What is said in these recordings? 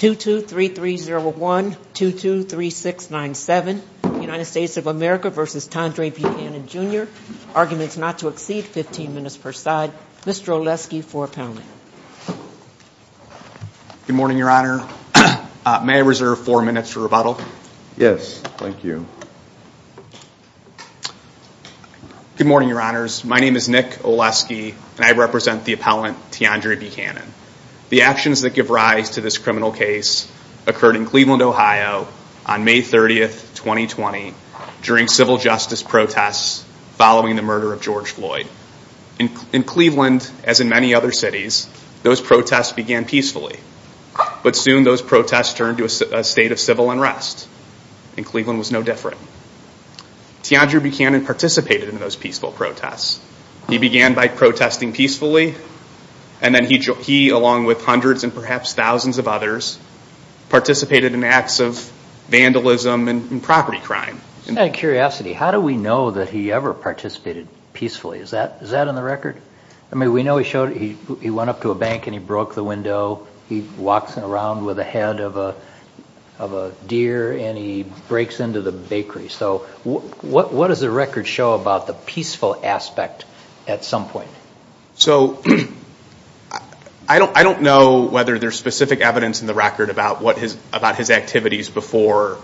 223301223697 United States of America v. Tandre Buchanan Jr. Arguments not to exceed 15 minutes per side. Mr. Oleski for appellant. Good morning, your honor. May I reserve four minutes for rebuttal? Yes, thank you. Good morning, your honors. My name is Nick Oleski and I represent the appellant Tandre Buchanan. The actions that give rise to this criminal case occurred in Cleveland, Ohio on May 30, 2020 during civil justice protests following the murder of George Floyd. In Cleveland, as in many other cities, those protests began peacefully. But soon those protests turned to a state of civil unrest. And Cleveland was no different. Tandre Buchanan participated in those peaceful protests. He began by protesting peacefully. And then he, along with hundreds and perhaps thousands of others, participated in acts of vandalism and property crime. Out of curiosity, how do we know that he ever participated peacefully? Is that in the record? I mean, we know he went up to a bank and he broke the window. He walks around with a head of a deer and he breaks into the bakery. So what does the record show about the peaceful aspect at some point? So I don't know whether there's specific evidence in the record about his activities before,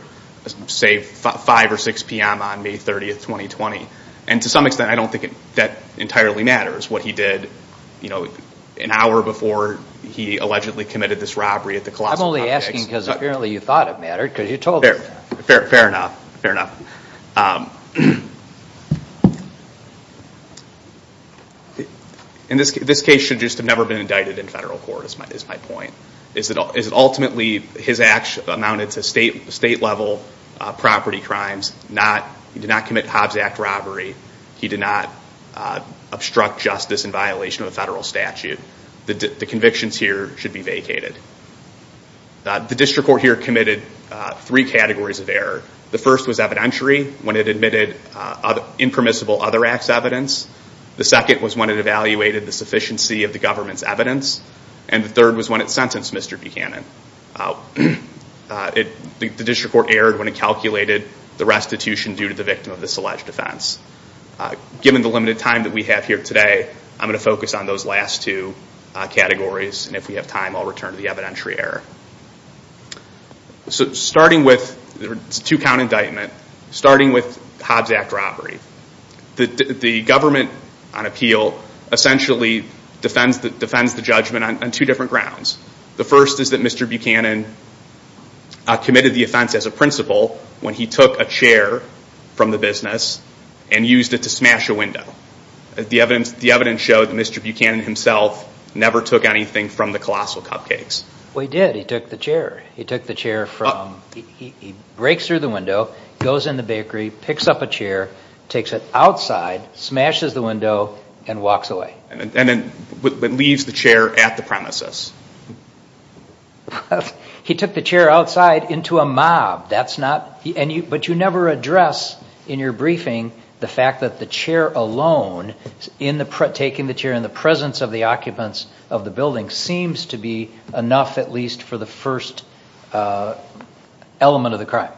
say, 5 or 6 p.m. on May 30, 2020. And to some extent, I don't think that entirely matters what he did an hour before he allegedly committed this robbery at the Colossal Hotel. Fair enough, fair enough. And this case should just have never been indicted in federal court, is my point. Is it ultimately his acts amounted to state-level property crimes? He did not commit Hobbs Act robbery. He did not obstruct justice in violation of a federal statute. The convictions here should be vacated. The district court here committed three categories of error. The first was evidentiary, when it admitted impermissible other acts evidence. The second was when it evaluated the sufficiency of the government's evidence. And the third was when it sentenced Mr. Buchanan. The district court erred when it calculated the restitution due to the victim of this alleged offense. Given the limited time that we have here today, I'm going focus on those last two categories. And if we have time, I'll return to the evidentiary error. It's a two-count indictment, starting with Hobbs Act robbery. The government on appeal essentially defends the judgment on two different grounds. The first is that Mr. Buchanan committed the offense as a principal when he took a chair from the business and used it to smash a window. And Mr. Buchanan himself never took anything from the Colossal Cupcakes. Well, he did. He took the chair. He breaks through the window, goes in the bakery, picks up a chair, takes it outside, smashes the window, and walks away. And then leaves the chair at the premises. He took the chair outside into a mob. But you never address in your briefing the fact that chair alone, taking the chair in the presence of the occupants of the building, seems to be enough at least for the first element of the crime.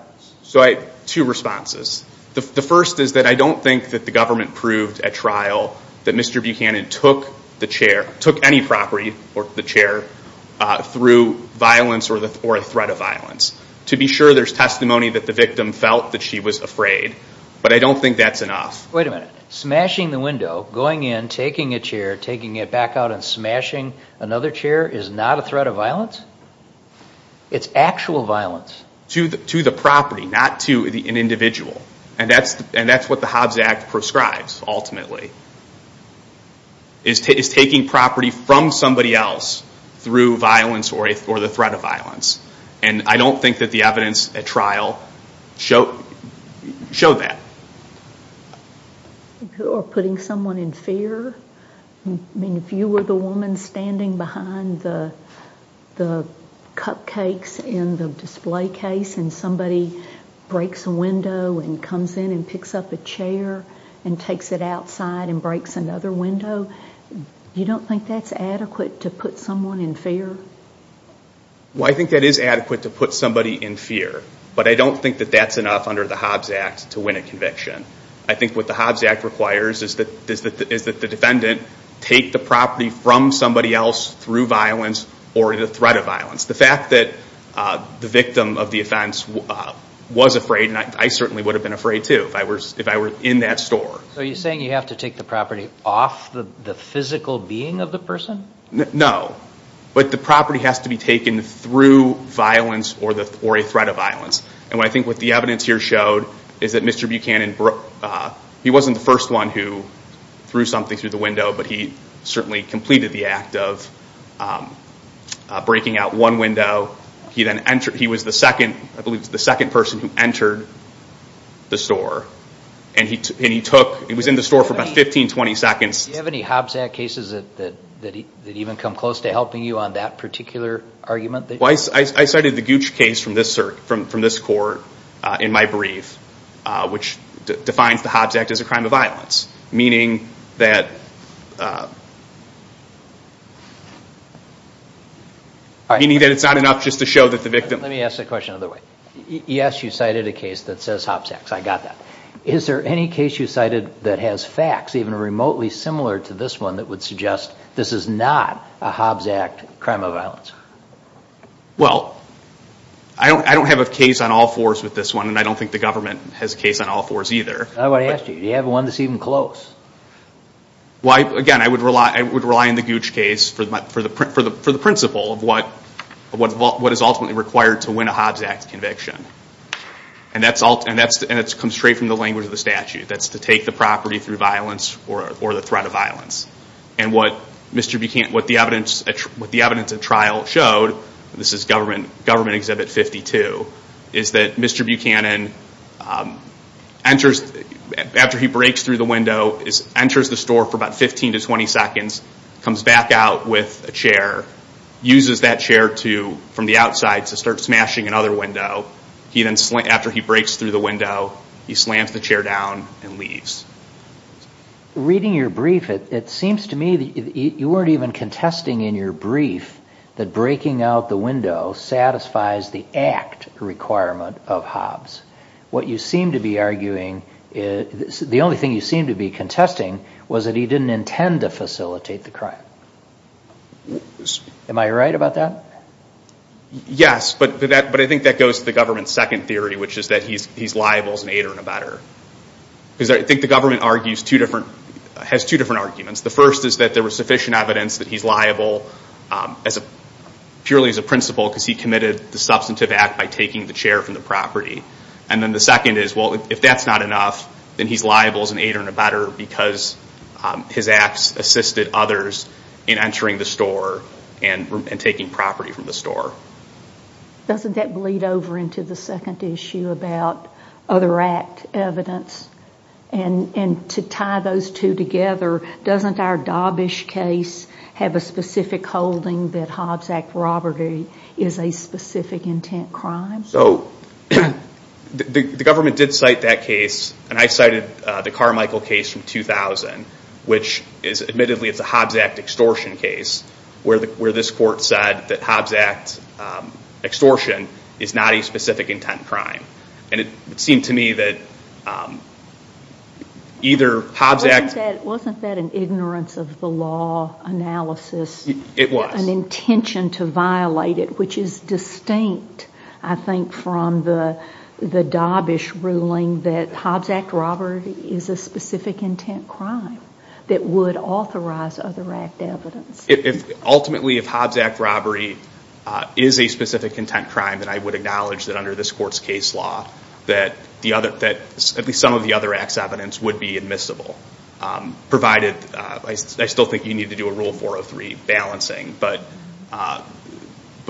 Two responses. The first is that I don't think that the government proved at trial that Mr. Buchanan took the chair, took any property or the chair, through violence or a threat of violence. To be sure, there's testimony that the victim felt that she was afraid. But I don't think that's enough. Wait a minute. Smashing the window, going in, taking a chair, taking it back out and smashing another chair is not a threat of violence? It's actual violence? To the property, not to an individual. And that's what the Hobbs Act prescribes, ultimately. Is taking property from somebody else through violence or the threat of violence. And I don't think that the evidence at trial showed that. Or putting someone in fear? If you were the woman standing behind the cupcakes in the display case and somebody breaks a window and comes in and picks up a chair and takes it outside and breaks another window, you don't think that's adequate to put someone in fear? Well, I think that is adequate to put somebody in fear. But I don't think that that's enough under the Hobbs Act to win a conviction. I think what the Hobbs Act requires is that the defendant take the property from somebody else through violence or the threat of violence. The fact that the victim of the offense was afraid, and I certainly would have been afraid too if I were in that store. So you're saying you have to take the property off the physical being of the person? No. But the property has to be taken through violence or a threat of violence. And I think what the evidence here showed is that Mr. Buchanan, he wasn't the first one who threw something through the window, but he certainly completed the act of breaking out one window. He was the second person who entered the store. And he took, he was in the store for about 15, 20 seconds. Do you have any Hobbs Act cases that even come close to helping you on that particular argument? Well, I cited the Gooch case from this court in my brief, which defines the Hobbs Act as a crime of violence, meaning that it's not enough just to show that the victim... Let me ask the question another way. Yes, you cited a case that says Hobbs Act. I got that. Is there any case you cited that has facts even remotely similar to this one that would suggest this is not a Hobbs Act crime of violence? Well, I don't have a case on all fours with this one, and I don't think the government has a case on all fours either. I would ask you, do you have one that's even close? Again, I would rely on the Gooch case for the principle of what is ultimately required to win a Hobbs Act conviction. And that comes straight from the language of the statute. That's to take the property through violence or the threat of violence. And what the evidence of trial showed, and this is government exhibit 52, is that Mr. Buchanan, after he breaks through the window, enters the store for about 15 to 20 seconds, comes back out with a chair, uses that chair from the outside to start smashing another window. After he breaks through the window, he slams the chair down and leaves. Reading your brief, it seems to me that you weren't even contesting in your brief that breaking out the window satisfies the Act requirement of Hobbs. What you seem to be arguing... The only thing you seem to be contesting was that he didn't intend to facilitate the crime. Am I right about that? Yes. But I think that goes to the government's second theory, which is that he's liable as an aider and abetter. Because I think the government has two different arguments. The first is that there was sufficient evidence that he's liable purely as a principal because he committed the substantive act by taking the chair from the property. And then the second is, well, if that's not enough, then he's liable as an aider and abetter because his acts assisted others in entering the store and taking property from the store. Doesn't that bleed over into the second issue about other Act evidence? And to tie those two together, doesn't our Dobbish case have a specific holding that Hobbs Act robbery is a specific intent crime? The government did cite that case. And I cited the Carmichael case from 2000, which admittedly is a Hobbs Act extortion case, where this court said that Hobbs Act extortion is not a specific intent crime. And it seemed to me that either Hobbs Act... Wasn't that an ignorance of the law analysis? It was. An intention to violate it, which is distinct, I think, from the Dobbish ruling that Hobbs Act robbery is a specific intent crime that would authorize other Act evidence. Ultimately, if Hobbs Act robbery is a specific intent crime, then I would acknowledge that under this court's case law, that at least some of the other Acts evidence would be admissible. Provided, I still think you need to do a Rule 403 balancing, but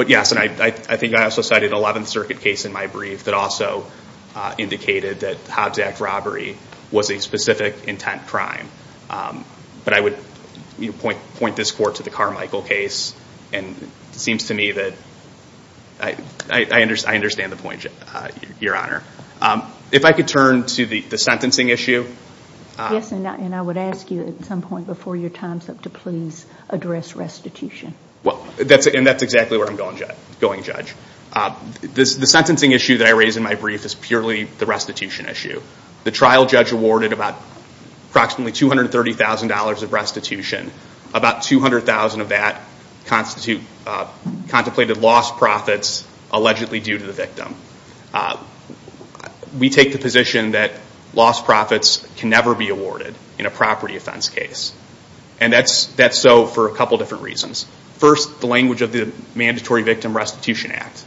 yes. And I think I also cited an 11th Circuit case in my brief that also indicated that Hobbs Act robbery was a specific intent crime. But I would point this court to the Carmichael case. And it seems to me that I understand the point, Your Honor. If I could turn to the sentencing issue. Yes, and I would ask you at some point before your time's up to please address restitution. The sentencing issue that I raised in my brief is purely the restitution issue. The trial judge awarded approximately $230,000 of restitution. About $200,000 of that contemplated lost profits allegedly due to the victim. We take the position that lost profits can never be awarded in a property offense case. And that's so for a couple different reasons. First, the language of the Mandatory Victim Restitution Act,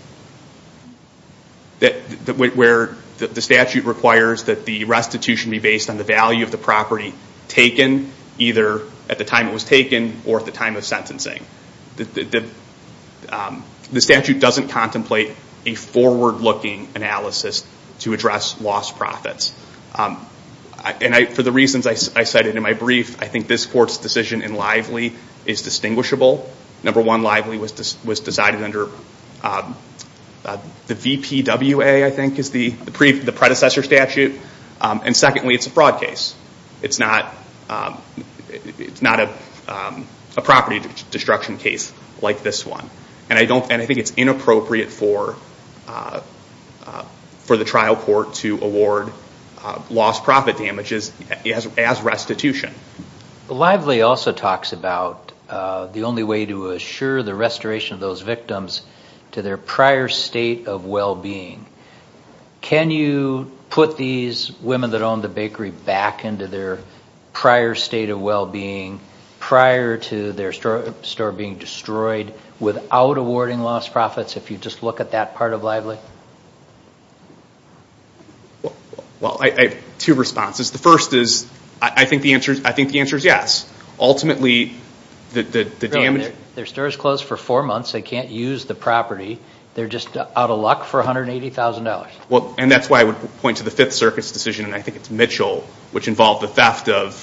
where the statute requires that the restitution be based on the value of the property taken either at the time it was taken or at the time of sentencing. The statute doesn't contemplate a forward-looking analysis to address lost profits. And for the reasons I cited in my brief, I think this court's decision in Lively is distinguishable. Number one, Lively was decided under the VPWA, I think is the predecessor statute. And secondly, it's a fraud case. It's not a property destruction case like this one. And I think it's inappropriate for the trial court to award lost profit damages as restitution. Lively also talks about the only way to assure the restoration of those victims to their prior state of well-being. Can you put these women that own the bakery back into their prior state of well-being prior to their store being destroyed without awarding lost profits, if you just look at that part of Lively? Well, I have two responses. The first is, I think the answer is yes. Ultimately, the damage... Their store is closed for four months. They can't use the property. They're just out of luck for $180,000. And that's why I would point to the Fifth Circuit's decision, and I think it's Mitchell, which involved the theft of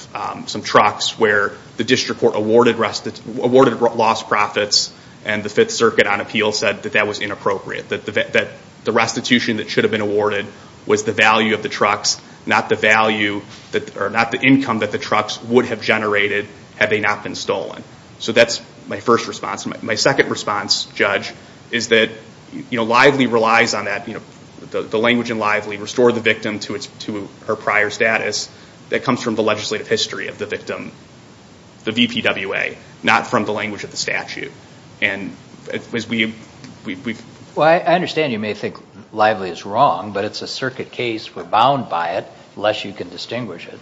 some trucks where the district court awarded lost profits and the Fifth Circuit on appeal said that that was inappropriate. The restitution that should have been awarded was the value of the trucks, not the income that the trucks would have generated had they not been stolen. So that's my first response. My second response, Judge, is that Lively relies on that. The language in Lively, restore the victim to her prior status, that comes from the legislative history of the victim, the VPWA, not from the language of the statute. Well, I understand you may think Lively is wrong, but it's a circuit case. We're bound by it, unless you can distinguish it.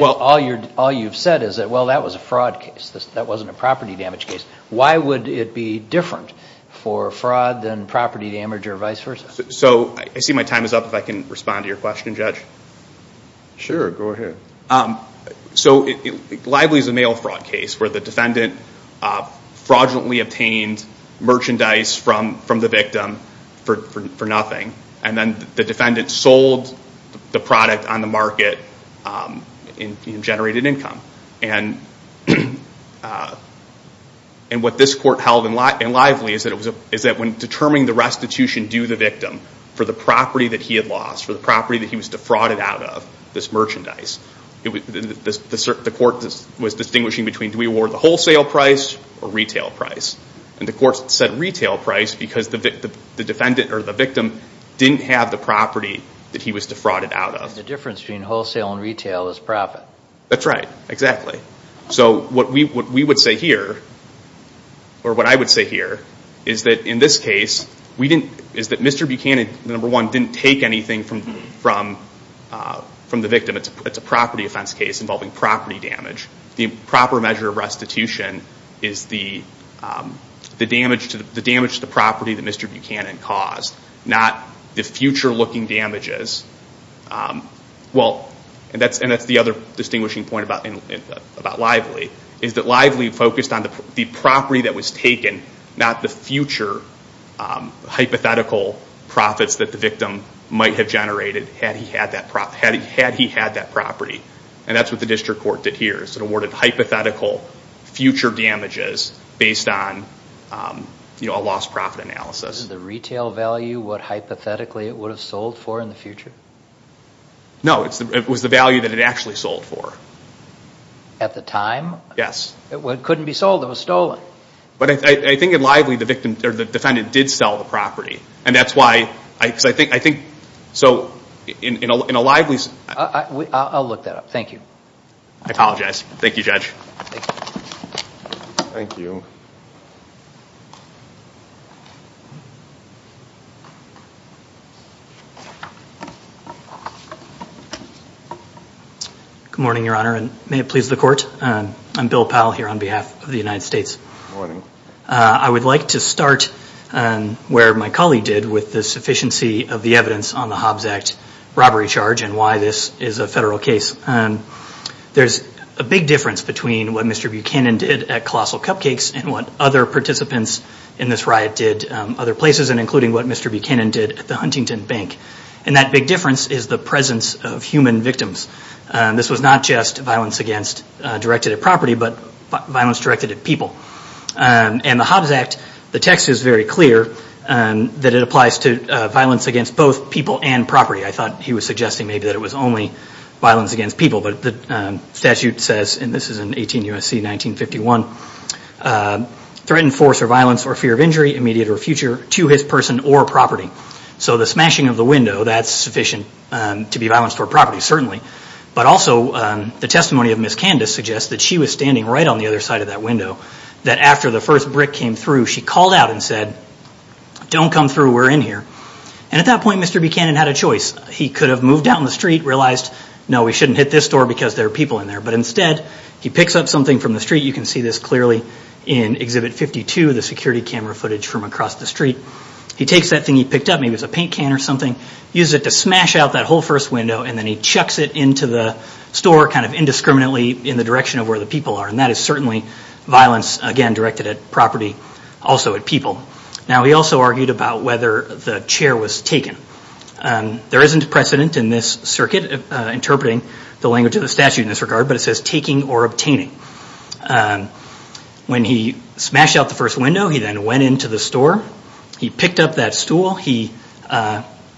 All you've said is that, well, that was a fraud case. That wasn't a property damage case. Why would it be different for fraud than property damage or vice versa? So I see my time is up. If I can respond to your question, Judge. Sure, go ahead. So Lively is a mail fraud case where the defendant fraudulently obtained merchandise from the victim for nothing. And then the defendant sold the product on the market and generated income. And what this court held in Lively is that when determining the restitution due the victim for the property that he had lost, for the property that he was defrauded out of, this merchandise, the court was distinguishing between, do we award the wholesale price or retail price? And the court said retail price because the victim didn't have the property that he was defrauded out of. The difference between wholesale and retail is profit. That's right, exactly. So what we would say here, or what I would say here, is that in this case, is that Mr. Buchanan, number one, didn't take anything from the victim. It's a property offense case involving property damage. The proper measure of restitution is the damage to the property that Mr. Buchanan caused, not the future-looking damages. Well, and that's the other distinguishing point about Lively, is that Lively focused on the property that was taken, not the future hypothetical profits that the victim might have generated had he had that property. And that's what the district court did here. It awarded hypothetical future damages based on a lost profit analysis. Is the retail value what, hypothetically, it would have sold for in the future? No, it was the value that it actually sold for. At the time? Yes. It couldn't be sold. It was stolen. But I think at Lively, the defendant did sell the property. And that's why, because I think, so in a Lively... I'll look that up. Thank you. I apologize. Thank you, Judge. Thank you. Good morning, Your Honor, and may it please the court. I'm Bill Powell here on behalf of the United States. Morning. I would like to start where my colleague did with the sufficiency of the evidence on the Hobbs Act robbery charge and why this is a federal case. There's a big difference between what Mr. Buchanan did at Colossal Cupcakes and what other participants in this riot did other places, and including what Mr. Buchanan did at the Huntington Bank. And that big difference is the presence of human victims. This was not just violence directed at property, but violence directed at people. And the Hobbs Act, the text is very clear that it applies to violence against both people and property. I thought he was suggesting maybe that it was only violence against people. But the statute says, and this is in 18 U.S.C. 1951, threatened force or violence or fear of injury, immediate or future, to his person or property. So the smashing of the window, that's sufficient to be violence toward property, certainly. But also the testimony of Ms. Candice suggests that she was standing right on the other side of that window, that after the first brick came through, she called out and said, don't come through, we're in here. And at that point, Mr. Buchanan had a choice. He could have moved down the street, realized, no, we shouldn't hit this door because there are people in there. But instead, he picks up something from the street. You can see this clearly in Exhibit 52, the security camera footage from across the street. He takes that thing he picked up, maybe it was a paint can or something, uses it to smash out that whole first window, and then he chucks it into the store, kind of indiscriminately in the direction of where the people are. And that is certainly violence, again, directed at property, also at people. Now, he also argued about whether the chair was taken. There isn't precedent in this circuit interpreting the language of the statute in this regard, but it says taking or obtaining. When he smashed out the first window, he then went into the store. He picked up that stool. He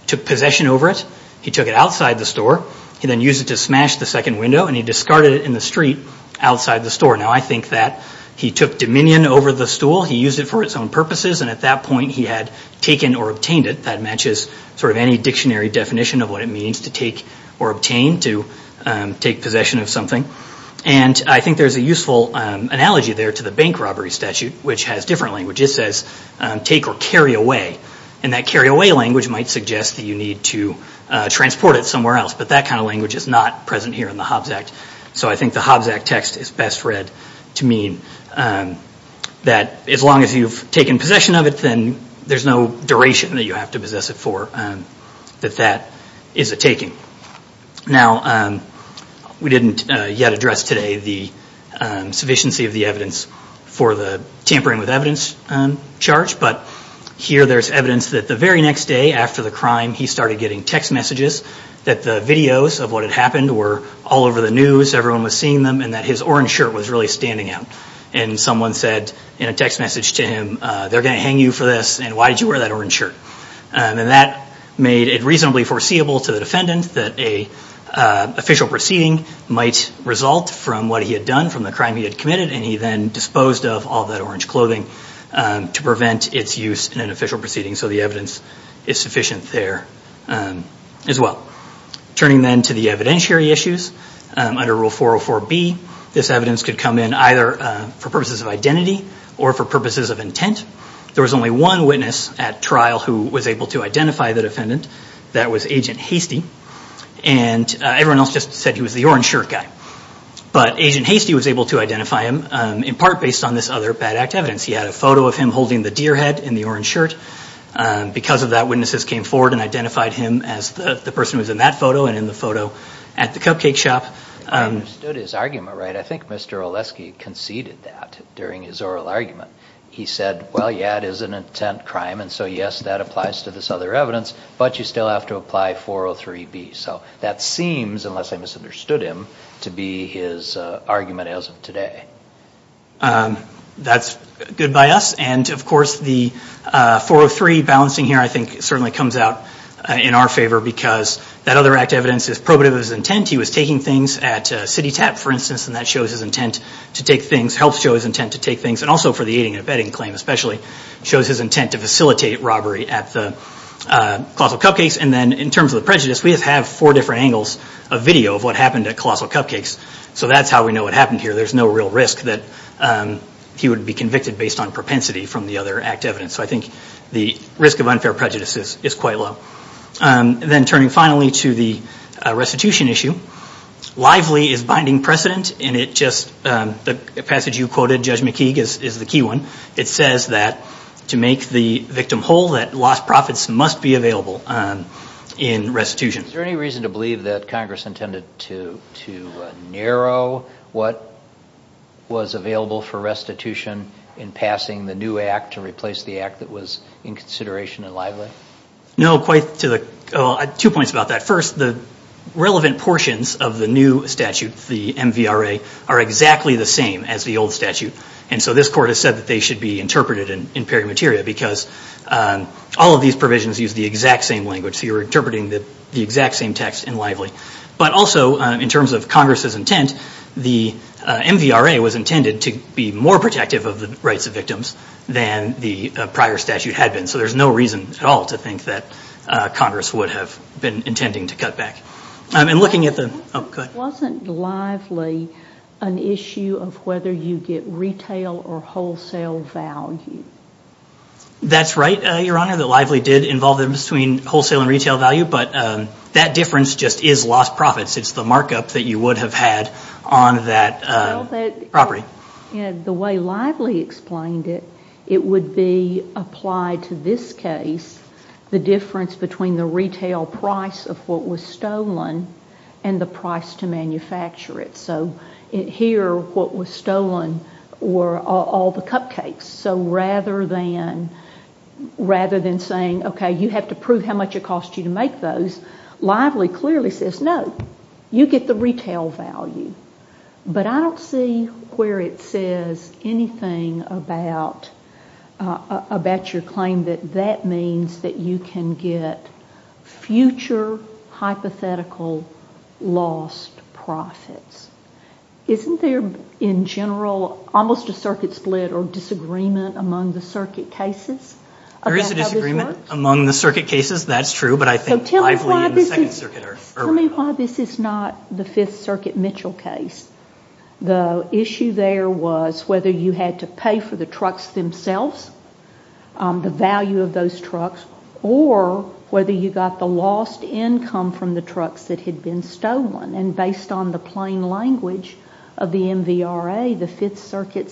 took possession over it. He took it outside the store. He then used it to smash the second window, and he discarded it in the street outside the store. Now, I think that he took dominion over the stool. He used it for its own purposes. And at that point, he had taken or obtained it. That matches sort of any dictionary definition of what it means to take or obtain, to take possession of something. And I think there's a useful analogy there to the bank robbery statute, which has different language. It says take or carry away. And that carry away language might suggest that you need to transport it somewhere else. But that kind of language is not present here in the Hobbs Act. So I think the Hobbs Act text is best read to mean that as long as you've taken possession of it, there's no duration that you have to possess it for, that that is a taking. Now, we didn't yet address today the sufficiency of the evidence for the tampering with evidence charge. But here there's evidence that the very next day after the crime, he started getting text messages that the videos of what had happened were all over the news, everyone was seeing them, and that his orange shirt was really standing out. And someone said in a text message to him, they're going to hang you for this. And why did you wear that orange shirt? And that made it reasonably foreseeable to the defendant that a official proceeding might result from what he had done from the crime he had committed. And he then disposed of all that orange clothing to prevent its use in an official proceeding. So the evidence is sufficient there as well. Turning then to the evidentiary issues under Rule 404B, this evidence could come in either for purposes of identity or for purposes of intent. There was only one witness at trial who was able to identify the defendant. That was Agent Hastie. And everyone else just said he was the orange shirt guy. But Agent Hastie was able to identify him in part based on this other bad act evidence. He had a photo of him holding the deer head in the orange shirt. Because of that, witnesses came forward and identified him as the person who was in that photo and in the photo at the cupcake shop. I understood his argument, right? I think Mr. Oleski conceded that during his oral argument. He said, well, yeah, it is an intent crime. And so, yes, that applies to this other evidence. But you still have to apply 403B. So that seems, unless I misunderstood him, to be his argument as of today. That's good by us. And, of course, the 403 balancing here, I think, certainly comes out in our favor. Because that other act evidence is probative of his intent. He was taking things at CityTap, for instance. And that shows his intent to take things, helps show his intent to take things. And also for the aiding and abetting claim, especially, shows his intent to facilitate robbery at the Colossal Cupcakes. And then in terms of the prejudice, we have four different angles of video of what happened at Colossal Cupcakes. So that's how we know what happened here. There's no real risk that he would be convicted based on propensity from the other act evidence. So I think the risk of unfair prejudice is quite low. Then turning finally to the restitution issue, Lively is binding precedent. And the passage you quoted, Judge McKeague, is the key one. It says that to make the victim whole, that lost profits must be available in restitution. Is there any reason to believe that Congress intended to narrow what was available for restitution in passing the new act to replace the act that was in consideration in Lively? No, two points about that. First, the relevant portions of the new statute, the MVRA, are exactly the same as the old statute. And so this court has said that they should be interpreted in peri materia because all of these provisions use the exact same language. So you're interpreting the exact same text in Lively. But also, in terms of Congress's intent, the MVRA was intended to be more protective of the rights of victims than the prior statute had been. So there's no reason at all to think that Congress would have been intending to cut back. Wasn't Lively an issue of whether you get retail or wholesale value? That's right, Your Honor, that Lively did involve them between wholesale and retail value. But that difference just is lost profits. It's the markup that you would have had on that property. The way Lively explained it, it would be applied to this case, the difference between the retail price of what was stolen and the price to manufacture it. So here, what was stolen were all the cupcakes. So rather than saying, okay, you have to prove how much it cost you to make those, Lively clearly says, no, you get the retail value. But I don't see where it says anything about your claim that that means that you can get future hypothetical lost profits. Isn't there, in general, almost a circuit split or disagreement among the circuit cases? There is a disagreement among the circuit cases, that's true, but I think Lively and the Second Circuit are right. This is not the Fifth Circuit Mitchell case. The issue there was whether you had to pay for the trucks themselves, the value of those trucks, or whether you got the lost income from the trucks that had been stolen. And based on the plain language of the MVRA, the Fifth Circuit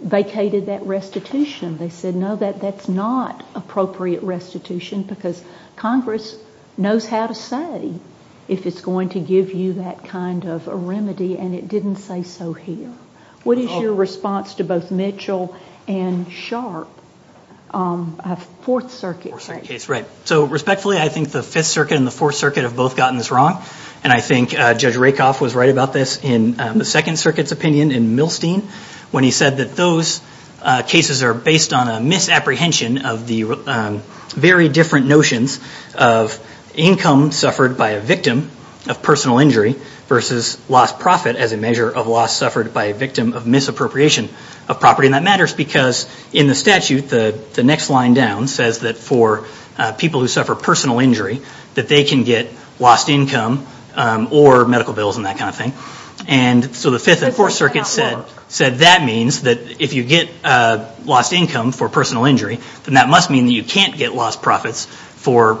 vacated that restitution. They said, no, that's not appropriate restitution because Congress knows how to say if it's going to give you that kind of remedy, and it didn't say so here. What is your response to both Mitchell and Sharp, Fourth Circuit case? Right. So respectfully, I think the Fifth Circuit and the Fourth Circuit have both gotten this wrong. And I think Judge Rakoff was right about this in the Second Circuit's opinion in Milstein, when he said that those cases are based on a misapprehension of the very different notions of income suffered by a victim of personal injury versus lost profit as a measure of loss suffered by a victim of misappropriation of property. And that matters because in the statute, the next line down says that for people who suffer personal injury, that they can get lost income or medical bills and that kind of thing. And so the Fifth and Fourth Circuit said that means that if you get lost income for personal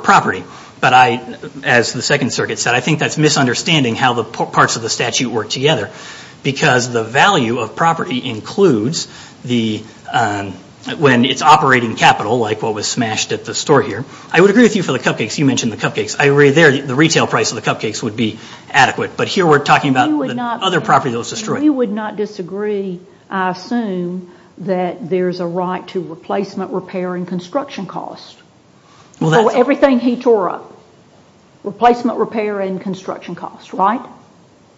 property, but as the Second Circuit said, I think that's misunderstanding how the parts of the statute work together because the value of property includes when it's operating capital, like what was smashed at the store here. I would agree with you for the cupcakes. You mentioned the cupcakes. I agree there, the retail price of the cupcakes would be adequate. But here we're talking about the other property that was destroyed. We would not disagree. I assume that there's a right to replacement, repair, and construction costs. Everything he tore up, replacement, repair, and construction costs, right?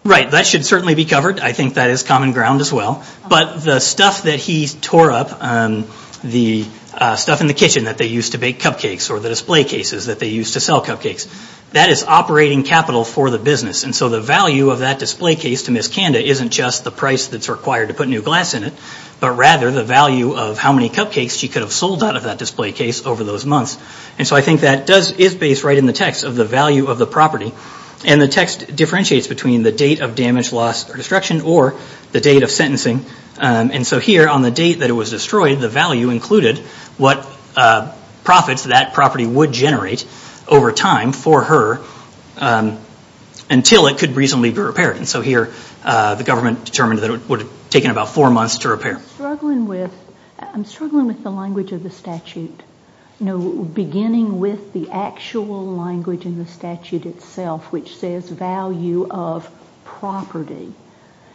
Right. That should certainly be covered. I think that is common ground as well. But the stuff that he tore up, the stuff in the kitchen that they used to bake cupcakes or the display cases that they used to sell cupcakes, that is operating capital for the business. And so the value of that display case to Miss Kanda isn't just the price that's required to put new glass in it, but rather the value of how many cupcakes she could have sold out of that display case over those months. And so I think that is based right in the text of the value of the property. And the text differentiates between the date of damage, loss, or destruction or the date of sentencing. And so here on the date that it was destroyed, the value included what profits that property would generate over time for her until it could reasonably be repaired. And so here the government determined that it would have taken about four months to repair. I'm struggling with the language of the statute. Beginning with the actual language in the statute itself, which says value of property.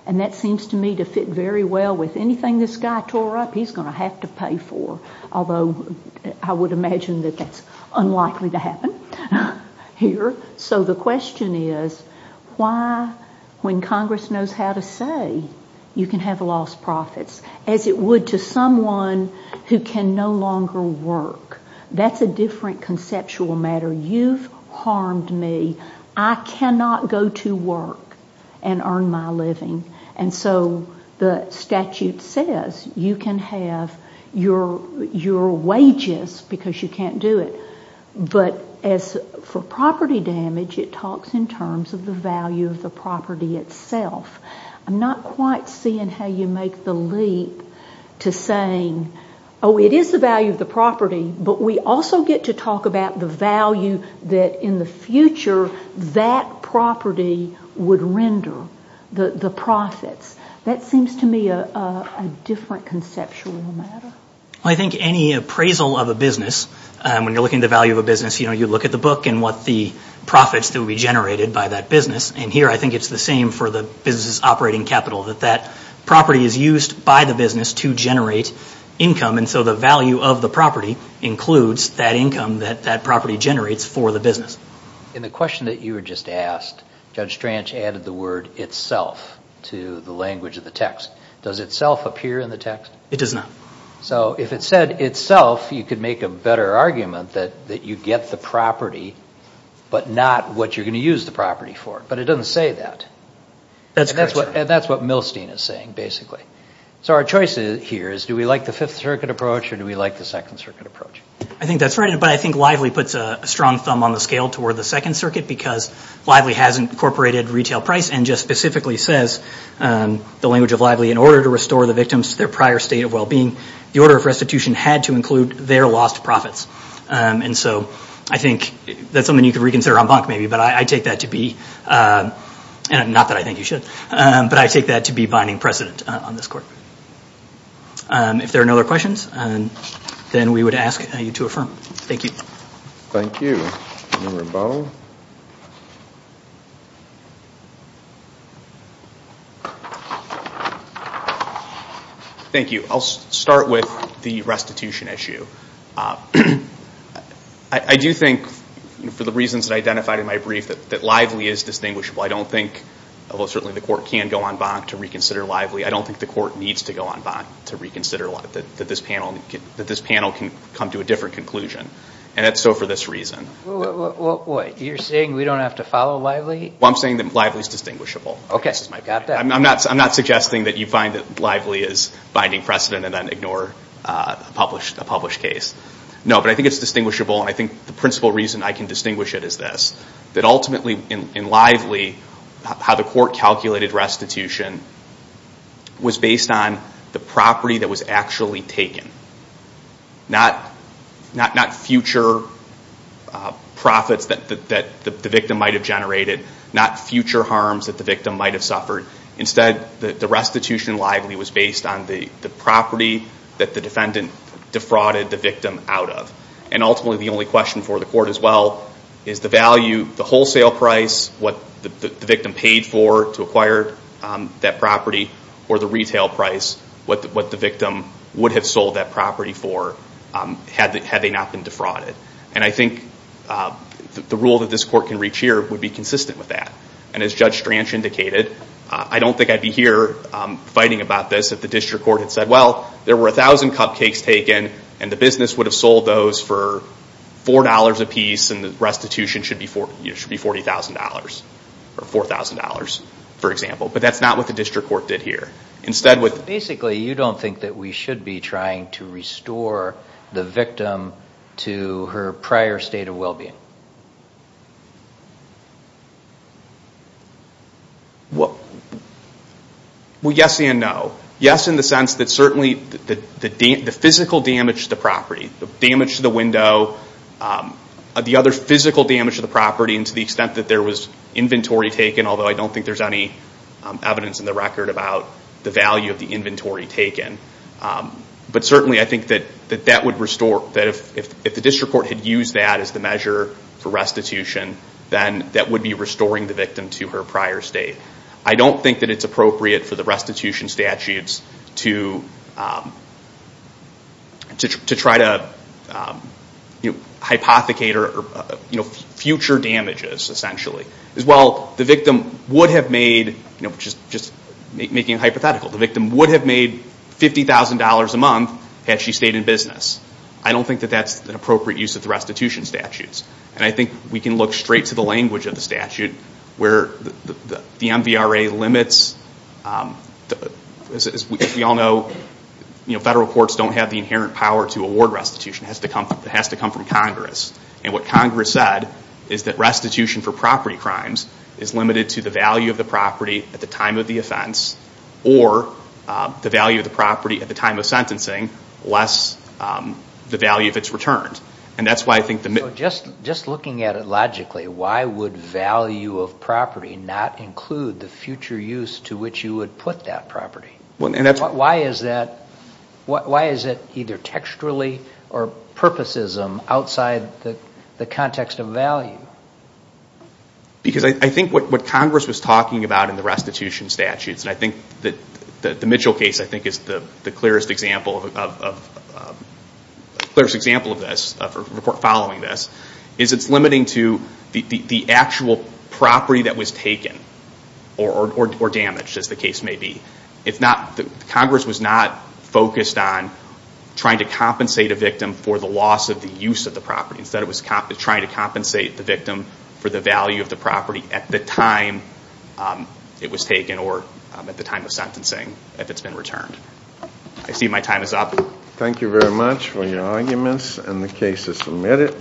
And that seems to me to fit very well with anything this guy tore up, he's going to have to pay for. Although I would imagine that that's unlikely to happen here. So the question is, why when Congress knows how to say you can have lost profits, as it would to someone who can no longer work. That's a different conceptual matter. You've harmed me. I cannot go to work and earn my living. And so the statute says you can have your wages because you can't do it. But as for property damage, it talks in terms of the value of the property itself. I'm not quite seeing how you make the leap to saying, oh, it is the value of the property, but we also get to talk about the value that in the future, that property would render the profits. That seems to me a different conceptual matter. I think any appraisal of a business, when you're looking at the value of a business, you look at the book and what the profits that would be generated by that business. And here I think it's the same for the business operating capital, that that property is used by the business to generate income. And so the value of the property includes that income that that property generates for the business. In the question that you were just asked, Judge Stranch added the word itself to the language of the text. Does itself appear in the text? It does not. So if it said itself, you could make a better argument that you get the property, but not what you're going to use the property for. But it doesn't say that. And that's what Milstein is saying, basically. So our choice here is, do we like the Fifth Circuit approach or do we like the Second Circuit approach? I think that's right. But I think Lively puts a strong thumb on the scale toward the Second Circuit because Lively has incorporated retail price and just specifically says the language of Lively in order to restore the victims to their prior state of well-being, the order of restitution had to include their lost profits. And so I think that's something you could reconsider en banc, maybe. But I take that to be, not that I think you should, but I take that to be binding precedent on this court. If there are no other questions, then we would ask you to affirm. Thank you. Thank you. Thank you. I'll start with the restitution issue. I do think, for the reasons that I identified in my brief, that Lively is distinguishable. I don't think, although certainly the court can go en banc to reconsider Lively, I don't think the court needs to go en banc to reconsider that this panel can come to a different conclusion. And so for this reason. You're saying we don't have to follow Lively? Well, I'm saying that Lively is distinguishable. I'm not suggesting that you find that Lively is binding precedent and then ignore a published case. No, but I think it's distinguishable. And I think the principal reason I can distinguish it is this, that ultimately in Lively, how the court calculated restitution was based on the property that was actually taken. Not future profits that the victim might have generated. Not future harms that the victim might have suffered. Instead, the restitution in Lively was based on the property that the defendant defrauded the victim out of. And ultimately the only question for the court as well is the value, the wholesale price, what the victim paid for to acquire that property, or the retail price, what the victim would have sold that property for had they not been defrauded. And I think the rule that this court can reach here would be consistent with that. And as Judge Stranch indicated, I don't think I'd be here fighting about this if the district court had said, well, there were 1,000 cupcakes taken and the business would have sold those for $4 a piece and the restitution should be $40,000 or $4,000, for example. But that's not what the district court did here. Basically, you don't think that we should be trying to restore the victim to her prior state of well-being? Well, yes and no. Yes, in the sense that certainly the physical damage to the property, the damage to the window, the other physical damage to the property and to the extent that there was inventory taken, although I don't think there's any evidence in the record about the value of the inventory taken. But certainly, I think that if the district court had used that as the measure for restitution, then that would be restoring the victim to her prior state. I don't think that it's appropriate for the restitution statutes to try to hypothecate or future damages, essentially. As well, the victim would have made, just making a hypothetical, the victim would have made $50,000 a month had she stayed in business. I don't think that that's an appropriate use of the restitution statutes and I think we can look straight to the language of the statute where the MVRA limits, as we all know, federal courts don't have the inherent power to award restitution. It has to come from Congress and what Congress said is that restitution for property crimes is limited to the value of the property at the time of the offense or the value of the property at the time of sentencing less the value if it's returned. And that's why I think the... So just looking at it logically, why would value of property not include the future use to which you would put that property? Why is it either texturally or purposes outside the context of value? Because I think what Congress was talking about in the restitution statutes, and I think that the Mitchell case I think is the clearest example of this, following this, is it's limiting to the actual property that was taken or damaged, as the case may be. Congress was not focused on trying to compensate a victim for the loss of the use of the property. Instead it was trying to compensate the victim for the value of the property at the time it was taken or at the time of sentencing if it's been returned. I see my time is up. Thank you very much for your arguments and the cases submitted.